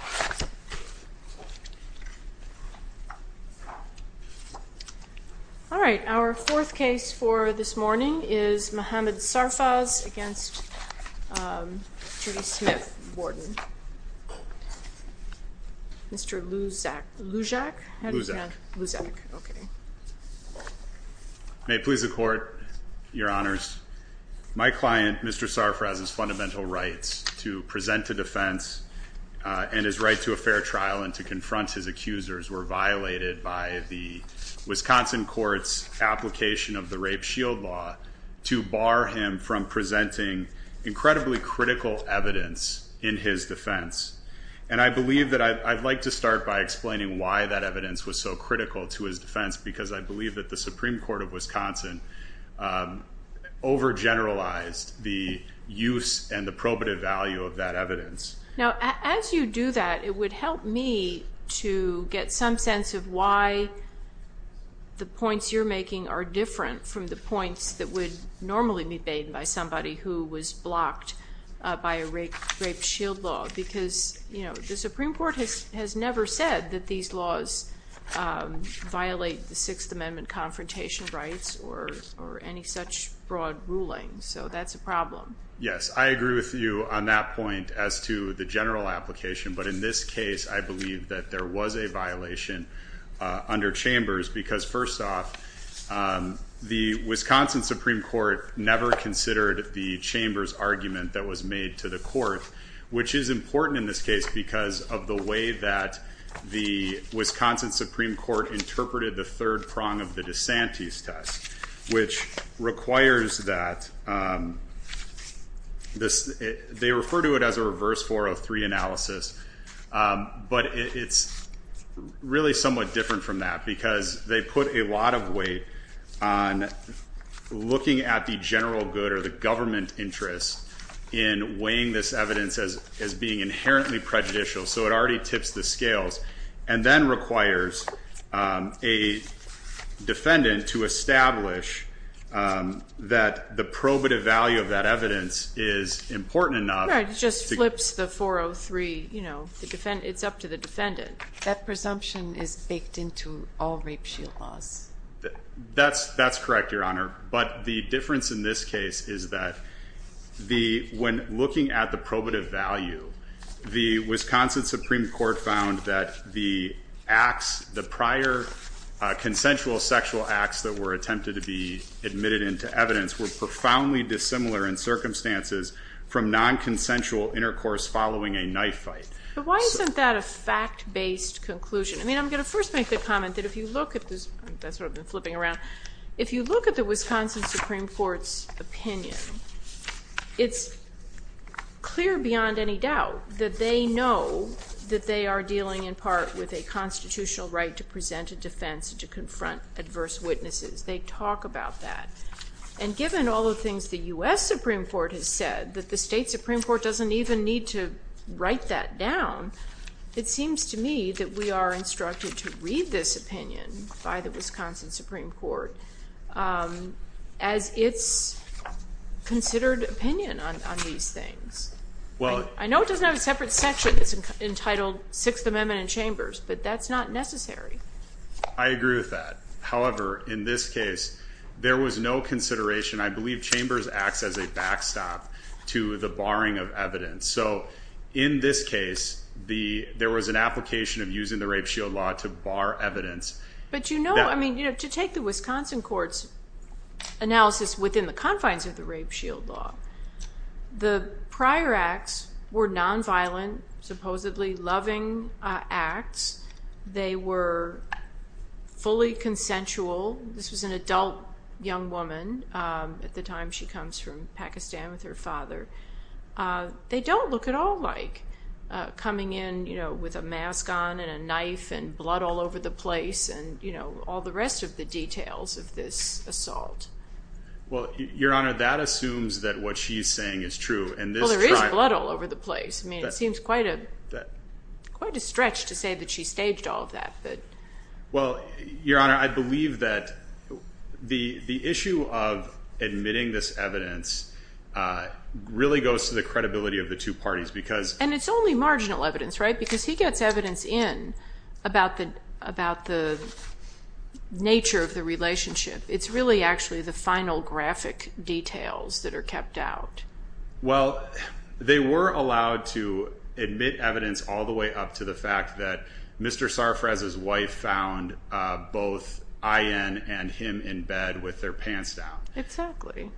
All right, our fourth case for this morning is Mohamed Sarfaz against Judy Smith, warden. Mr. Luzak. May it please the court, your honors, my client, Mr. Sarfaz, has fundamental rights to present a defense and his right to a fair trial and to confront his accusers were violated by the Wisconsin court's application of the Rape Shield Law to bar him from presenting incredibly critical evidence in his defense. And I believe that I'd like to start by explaining why that evidence was so critical to his defense, because I believe that the Supreme Court of Wisconsin overgeneralized the use and the evidence. Now, as you do that, it would help me to get some sense of why the points you're making are different from the points that would normally be made by somebody who was blocked by a Rape Shield Law, because, you know, the Supreme Court has never said that these laws violate the Sixth Amendment confrontation rights or any such broad ruling. So that's a problem. Yes, I agree with you on that point as to the general application. But in this case, I believe that there was a violation under Chambers because first off, the Wisconsin Supreme Court never considered the Chambers argument that was made to the court, which is important in this case because of the way that the Wisconsin Supreme Court interpreted the third prong of the DeSantis test, which requires that this—they refer to it as a reverse 403 analysis, but it's really somewhat different from that because they put a lot of weight on looking at the general good or the government interest in weighing this evidence as being inherently prejudicial, so it already tips the scales, and then requires a defendant to establish that the probative value of that evidence is important enough— Right, it just flips the 403, you know, it's up to the defendant. That presumption is baked into all Rape Shield Laws. That's correct, Your Honor. But the difference in this case is that when looking at the probative value, the Wisconsin Supreme Court found that the acts, the prior consensual sexual acts that were attempted to be admitted into evidence were profoundly dissimilar in circumstances from non-consensual intercourse following a knife fight. But why isn't that a fact-based conclusion? I mean, I'm going to first make the comment that if you look at this—that's sort of flipping around—if you look at the Wisconsin Supreme Court's opinion, it's clear beyond any doubt that they know that they are dealing in part with a constitutional right to present a defense to confront adverse witnesses. They talk about that. And given all the things the U.S. Supreme Court has said, that the state Supreme Court doesn't even need to write that down, it seems to me that we are instructed to read this opinion by the Wisconsin Supreme Court as its considered opinion on these things. I know it doesn't have a separate section that's entitled Sixth Amendment and Chambers, but that's not necessary. I agree with that. However, in this case, there was no consideration. I believe Chambers acts as a backstop to the barring of evidence. So in this case, there was an application of using the Rape Shield Law to bar evidence. But you know, to take the Wisconsin Court's analysis within the confines of the Rape Shield Law, the prior acts were nonviolent, supposedly loving acts. They were fully consensual. This was an adult young woman at the time she comes from Pakistan with her father. They don't look at all like coming in, you know, with a mask on and a knife and blood all over the place and, you know, all the rest of the details of this assault. Well, Your Honor, that assumes that what she's saying is true. Well, there is blood all over the place. I mean, it seems quite a stretch to say that she staged all of that. Well, Your Honor, I believe that the issue of admitting this evidence really goes to the credibility of the two parties. And it's only marginal evidence, right? Because he gets evidence in about the nature of the relationship. It's really actually the final graphic details that are kept out. Well, they were allowed to admit evidence all the way up to the fact that Mr. Sarfraz's wife found both Ayan and him in bed with their pants down. Exactly.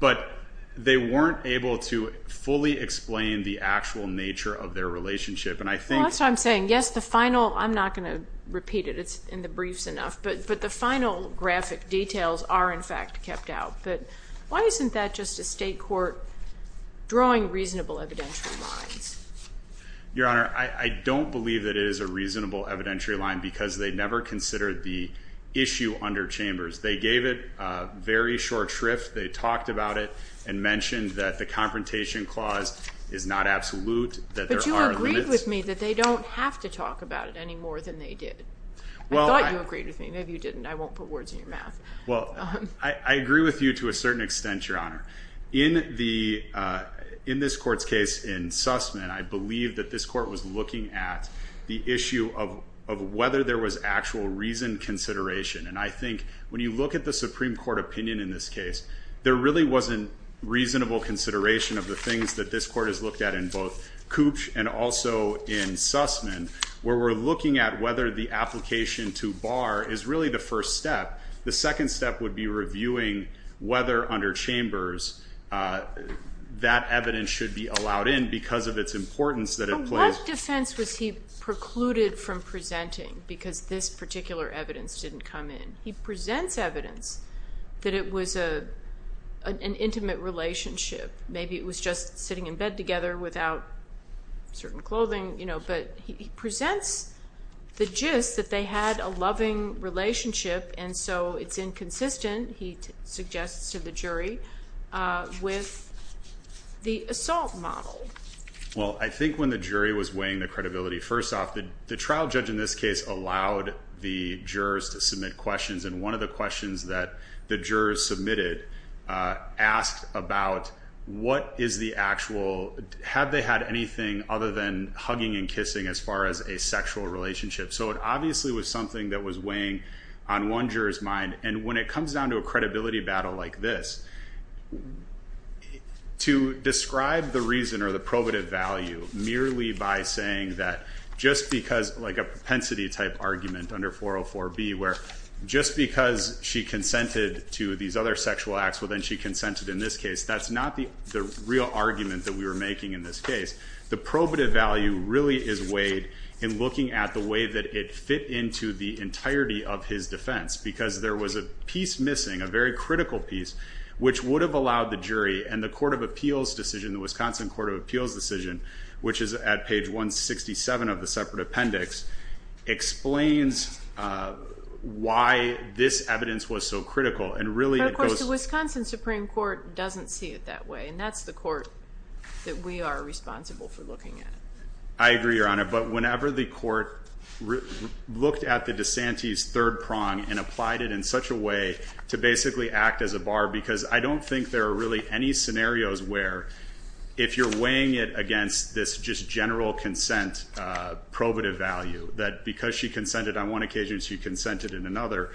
But they weren't able to fully explain the actual nature of their relationship. And I think... That's what I'm saying. Yes, the final... I'm not going to repeat it. It's in the briefs enough. But the final graphic details are, in fact, kept out. But why isn't that just a state court drawing reasonable evidentiary lines? Your Honor, I don't believe that it is a reasonable evidentiary line because they never considered the issue under Chambers. They gave it a very short shrift. They talked about it and mentioned that the Confrontation Clause is not absolute, that there are limits. But you agreed with me that they don't have to talk about it any more than they did. I thought you agreed with me. Maybe you didn't. I won't put words in your mouth. Well, I agree with you to a certain extent, Your Honor. In this court's case in Sussman, I believe that this court was looking at the issue of whether there was actual reasoned consideration. And I think when you look at the Supreme Court opinion in this case, there really wasn't reasonable consideration of the things that this court has looked at in both Cooch and in Sussman, where we're looking at whether the application to bar is really the first step. The second step would be reviewing whether under Chambers that evidence should be allowed in because of its importance that it plays. But what defense was he precluded from presenting because this particular evidence didn't come in? He presents evidence that it was an intimate relationship. Maybe it was just sitting in bed together without certain clothing, but he presents the gist that they had a loving relationship, and so it's inconsistent, he suggests to the jury, with the assault model. Well, I think when the jury was weighing the credibility, first off, the trial judge in this case allowed the jurors to submit questions. And one of the questions that the jurors submitted asked about what is the actual, have they had anything other than hugging and kissing as far as a sexual relationship? So, it obviously was something that was weighing on one juror's mind. And when it comes down to a credibility battle like this, to describe the reason or the probative value merely by saying that just because, like a propensity type argument under 404B, where just because she consented to these other sexual acts, well, then she consented in this case, that's not the real argument that we were making in this case. The probative value really is weighed in looking at the way that it fit into the entirety of his defense, because there was a piece missing, a very critical piece, which would have allowed the jury, and the Court of Appeals decision, the Wisconsin Court of Appeals decision, which is at page 167 of the separate appendix, explains why this evidence was so critical. And really, it goes... But, of course, the Wisconsin Supreme Court doesn't see it that way. And that's the court that we are responsible for looking at. I agree, Your Honor. But whenever the court looked at the DeSantis third prong and applied it in such a way to basically act as a bar, because I don't think there are really any scenarios where if you're looking at this general consent probative value, that because she consented on one occasion, she consented in another,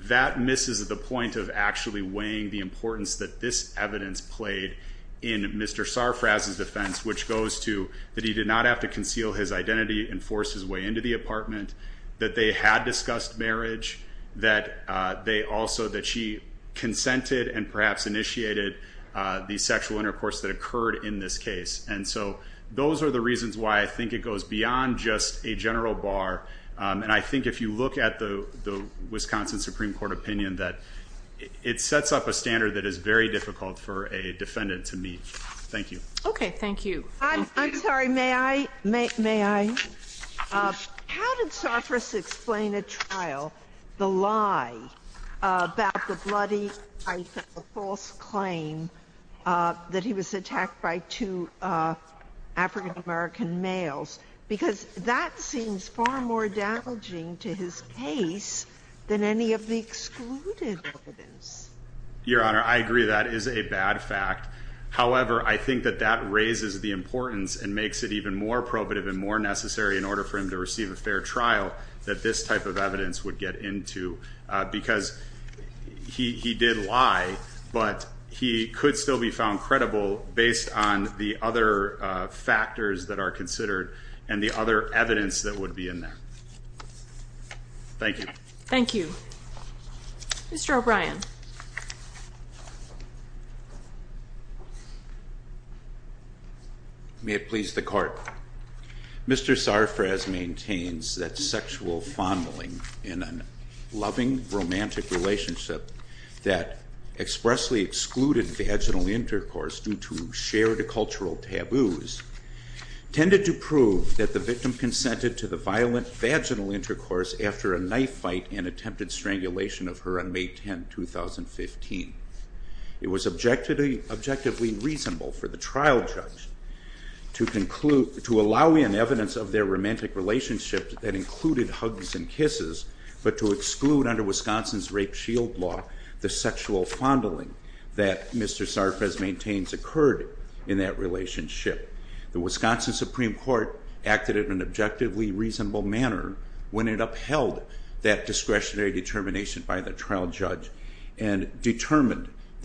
that misses the point of actually weighing the importance that this evidence played in Mr. Sarfraz's defense, which goes to that he did not have to conceal his identity and force his way into the apartment, that they had discussed marriage, that they also... That she consented and perhaps initiated the sexual intercourse that occurred in this case. And so those are the reasons why I think it goes beyond just a general bar. And I think if you look at the Wisconsin Supreme Court opinion, that it sets up a standard that is very difficult for a defendant to meet. Thank you. Okay. Thank you. I'm sorry. May I? May I? How did Sarfraz explain at trial the lie about the bloody false claim that he was attacked by two African American males? Because that seems far more damaging to his case than any of the excluded evidence. Your Honor, I agree that is a bad fact. However, I think that that raises the importance and makes it even more probative and more necessary in order for him to receive a fair trial that this type of evidence would get into. Because he did lie, but he could still be found credible based on the other factors that are considered and the other evidence that would be in there. Thank you. Thank you. May it please the Court. Mr. Sarfraz maintains that sexual fondling in a loving, romantic relationship that expressly excluded vaginal intercourse due to shared cultural taboos tended to prove that the victim consented to the violent vaginal intercourse after a knife fight and attempted strangulation of her on May 10, 2015. It was objectively reasonable for the trial judge to allow in evidence of their romantic relationship that included hugs and kisses, but to exclude under Wisconsin's rape shield law the sexual fondling that Mr. Sarfraz maintains occurred in that relationship. The Wisconsin Supreme Court acted in an objectively reasonable manner when it upheld that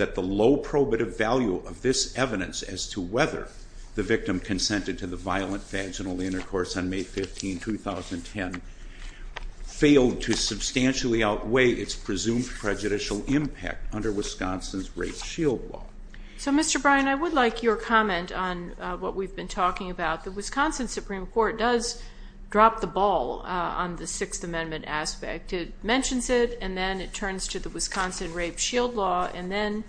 the low probative value of this evidence as to whether the victim consented to the violent vaginal intercourse on May 15, 2010 failed to substantially outweigh its presumed prejudicial impact under Wisconsin's rape shield law. So, Mr. Bryan, I would like your comment on what we've been talking about. The Wisconsin Supreme Court does drop the ball on the Sixth Amendment aspect. It mentions it, and then it turns to the Wisconsin rape shield law, and then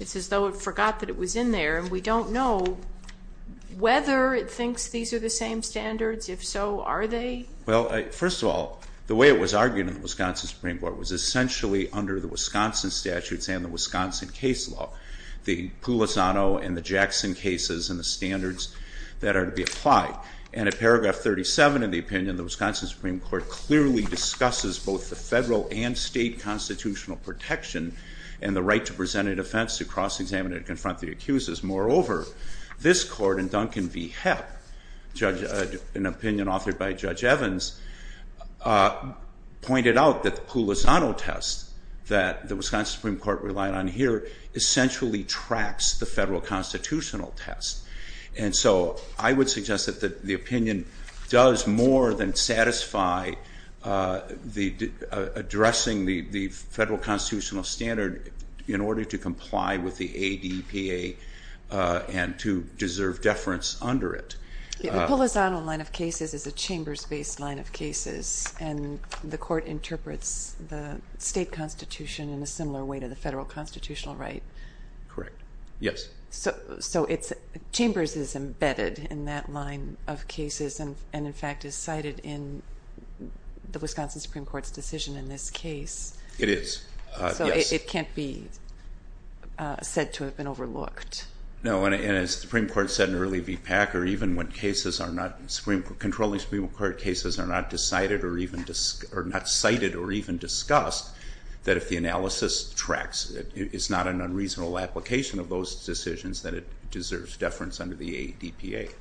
it's as though it forgot that it was in there, and we don't know whether it thinks these are the same standards. If so, are they? Well, first of all, the way it was argued in the Wisconsin Supreme Court was essentially under the Wisconsin statutes and the Wisconsin case law, the Pulisano and the Jackson cases and the standards that are to be applied. And at paragraph 37 of the opinion, the Wisconsin Supreme Court clearly discusses both the federal and state constitutional protection and the right to present an offense to cross-examine and confront the accusers. Moreover, this court in Duncan v. Hepp, an opinion authored by Judge Evans, pointed out that the Pulisano test that the Wisconsin Supreme Court relied on here essentially tracks the federal constitutional test. And so I would suggest that the opinion does more than satisfy addressing the federal constitutional standard in order to comply with the ADPA and to deserve deference under it. The Pulisano line of cases is a chambers-based line of cases, and the court interprets the state constitution in a similar way to the federal constitutional right. Correct. Yes. So chambers is embedded in that line of cases and in fact is cited in the Wisconsin Supreme Court's decision in this case. It is. Yes. So it can't be said to have been overlooked. No, and as the Supreme Court said in early v. Packer, even when controlling Supreme Court cases are not cited or even discussed, that if the analysis tracks it, it's not an unreasonable application of those decisions that it deserves deference under the ADPA.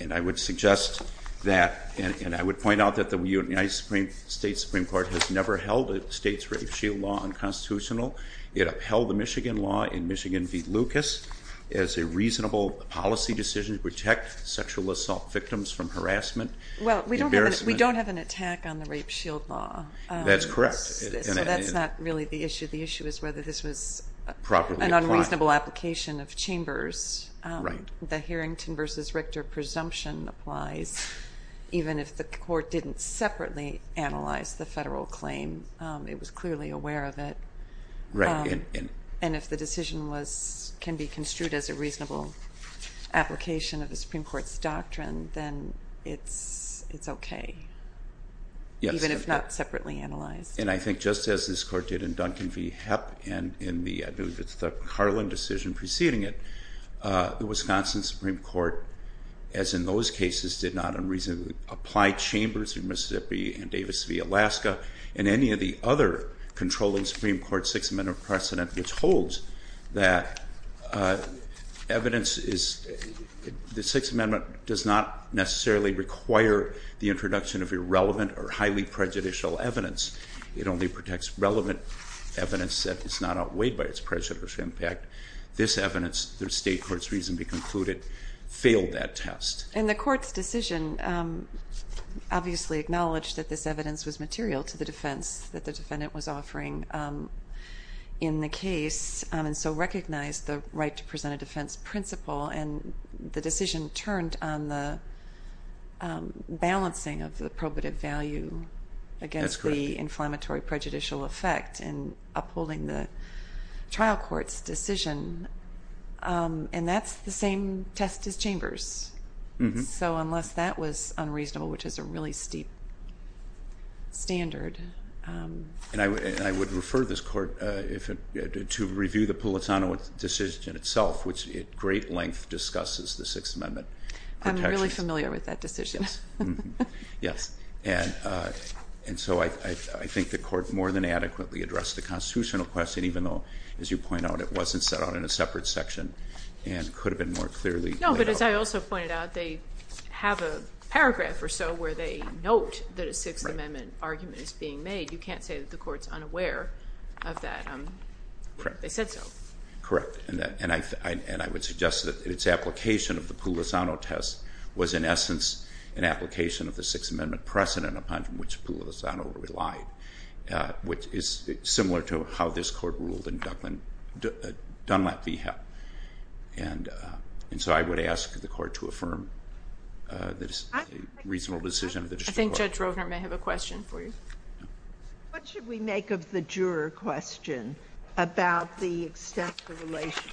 And I would suggest that, and I would point out that the United States Supreme Court has never held a state's rape shield law unconstitutional. It upheld the Michigan law in Michigan v. Lucas as a reasonable policy decision to protect sexual assault victims from harassment, embarrassment. Well, we don't have an attack on the rape shield law. That's correct. So that's not really the issue. The issue is whether this was an unreasonable application of chambers. Right. The Harrington v. Richter presumption applies even if the court didn't separately analyze the federal claim. It was clearly aware of it. Right. And if the decision can be construed as a reasonable application of the Supreme Court's doctrine, then it's okay. Yes. Even if not separately analyzed. And I think just as this court did in Duncan v. Hepp and in the, I believe it's the Carlin decision preceding it, the Wisconsin Supreme Court, as in those cases, did not unreasonably apply chambers in Mississippi and Davis v. Alaska and any of the other controlling Supreme Court Sixth Amendment precedent which holds that evidence is, the Sixth Amendment does not necessarily require the introduction of irrelevant or highly prejudicial evidence. It only protects relevant evidence that is not outweighed by its prejudicial impact. This evidence, the state court's reason to conclude it, failed that test. And the court's decision obviously acknowledged that this evidence was material to the defense that the defendant was offering in the case and so recognized the right to present a defense principle and the decision turned on the balancing of the probative value against the inflammatory prejudicial effect in upholding the trial court's decision. And that's the same test as chambers. So unless that was unreasonable, which is a really steep standard. And I would refer this court to review the Pulitano decision itself, which at great length discusses the Sixth Amendment protections. I'm really familiar with that decision. Yes. And so I think the court more than adequately addressed the constitutional question, even though, as you point out, it wasn't set out in a separate section and could have been more clearly laid out. No, but as I also pointed out, they have a paragraph or so where they note that a Sixth Amendment decision is being made. You can't say that the court's unaware of that. Correct. They said so. Correct. And I would suggest that its application of the Pulitano test was, in essence, an application of the Sixth Amendment precedent upon which Pulitano relied, which is similar to how this court ruled in Dunlap v. Hepp. And so I would ask the court to affirm the reasonable decision of the district court. I think Judge Rovner may have a question for you. What should we make of the juror question about the extent of the relation?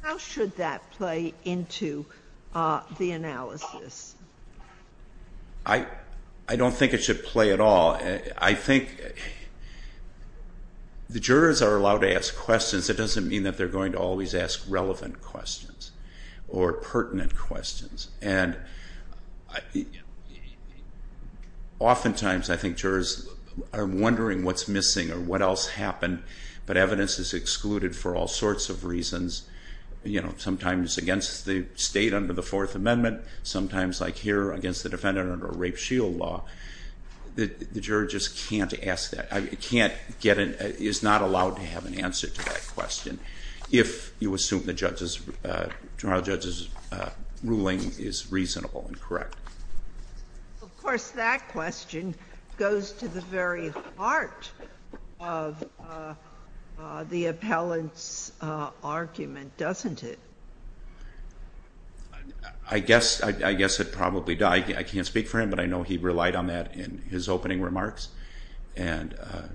How should that play into the analysis? I don't think it should play at all. I think the jurors are allowed to ask questions. It doesn't mean that they're going to always ask relevant questions or pertinent questions. And oftentimes, I think jurors are wondering what's missing or what else happened, but evidence is excluded for all sorts of reasons, sometimes against the state under the Fourth Amendment, sometimes, like here, against the defendant under a rape shield law. The juror just can't ask that. He's not allowed to have an answer to that question. If you assume the trial judge's ruling is reasonable and correct. Of course, that question goes to the very heart of the appellant's argument, doesn't it? I guess it probably does. I can't speak for him, but I know he relied on that in his opening remarks. Again,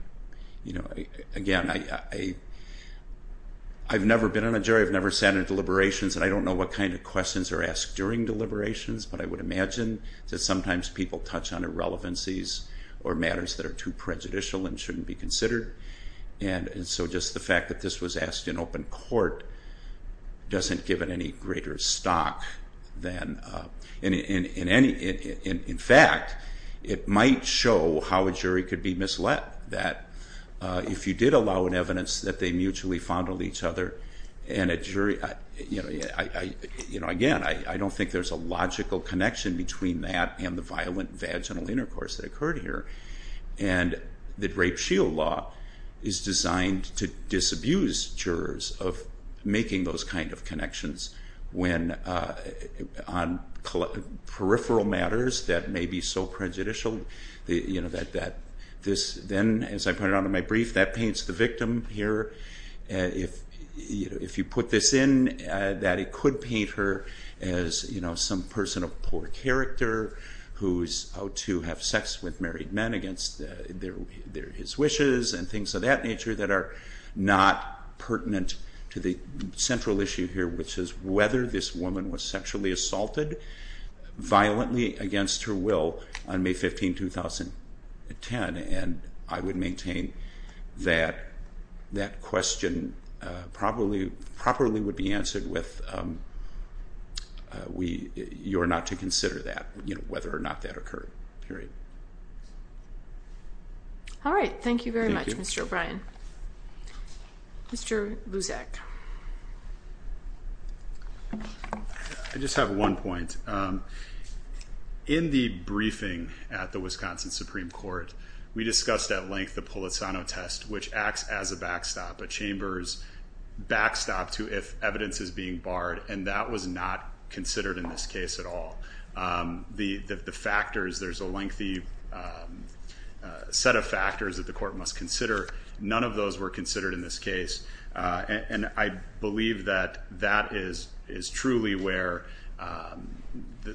I've never been on a jury. I've never sat in deliberations, and I don't know what kind of questions are asked during deliberations, but I would imagine that sometimes people touch on irrelevancies or matters that are too prejudicial and shouldn't be considered. Just the fact that this was asked in open court doesn't give it any greater stock than In fact, it might show how a jury could be misled, that if you did allow an evidence that they mutually fondled each other, and a jury, again, I don't think there's a logical connection between that and the violent vaginal intercourse that occurred here. The rape shield law is designed to disabuse jurors of making those kind of connections on peripheral matters that may be so prejudicial. Then, as I pointed out in my brief, that paints the victim here. If you put this in, it could paint her as some person of poor character who's out to have sex with married men against his wishes and things of that nature that are not pertinent to the whether this woman was sexually assaulted violently against her will on May 15, 2010. I would maintain that that question probably would be answered with, you are not to consider that, whether or not that occurred, period. All right. Thank you very much, Mr. O'Brien. Mr. Luzak. I just have one point. In the briefing at the Wisconsin Supreme Court, we discussed at length the Pulitzano test, which acts as a backstop, a chamber's backstop to if evidence is being barred, and that was not considered in this case at all. The factors, there's a lengthy set of factors that the court must consider. None of those were considered in this case, and I believe that that is truly where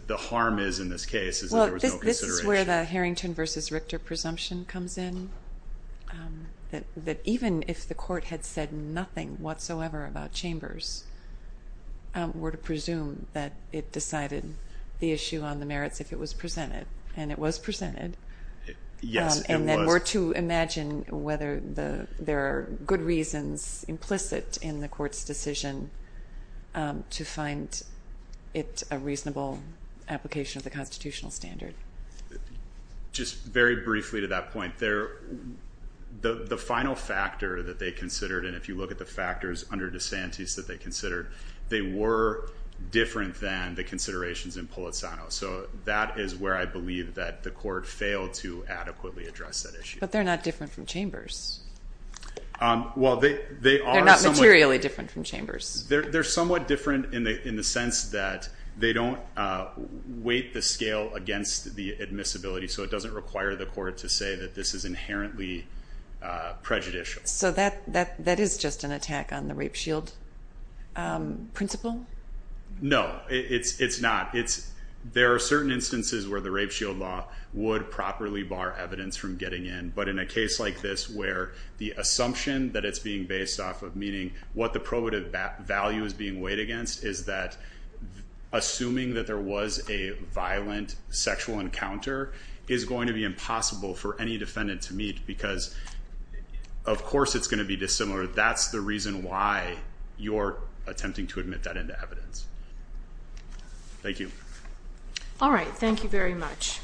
the harm is in this case is that there was no consideration. Well, this is where the Harrington v. Richter presumption comes in, that even if the court had said nothing whatsoever about chambers, we're to presume that it decided the issue on the merits if it was presented, and it was presented. Yes, it was. And then we're to imagine whether there are good reasons implicit in the court's decision to find it a reasonable application of the constitutional standard. Just very briefly to that point, the final factor that they considered, and if you look at the factors under DeSantis that they considered, they were different than the considerations in Pulitzano. So that is where I believe that the court failed to adequately address that issue. But they're not different from chambers. Well, they are somewhat. They're not materially different from chambers. They're somewhat different in the sense that they don't weight the scale against the admissibility, so it doesn't require the court to say that this is inherently prejudicial. So that is just an attack on the rape shield principle? No, it's not. There are certain instances where the rape shield law would properly bar evidence from getting in, but in a case like this where the assumption that it's being based off of, meaning what the probative value is being weighed against, is that assuming that there was a violent sexual encounter is going to be impossible for any defendant to meet because, of course, it's going to be dissimilar. That's the reason why you're attempting to admit that into evidence. Thank you. All right. Thank you very much.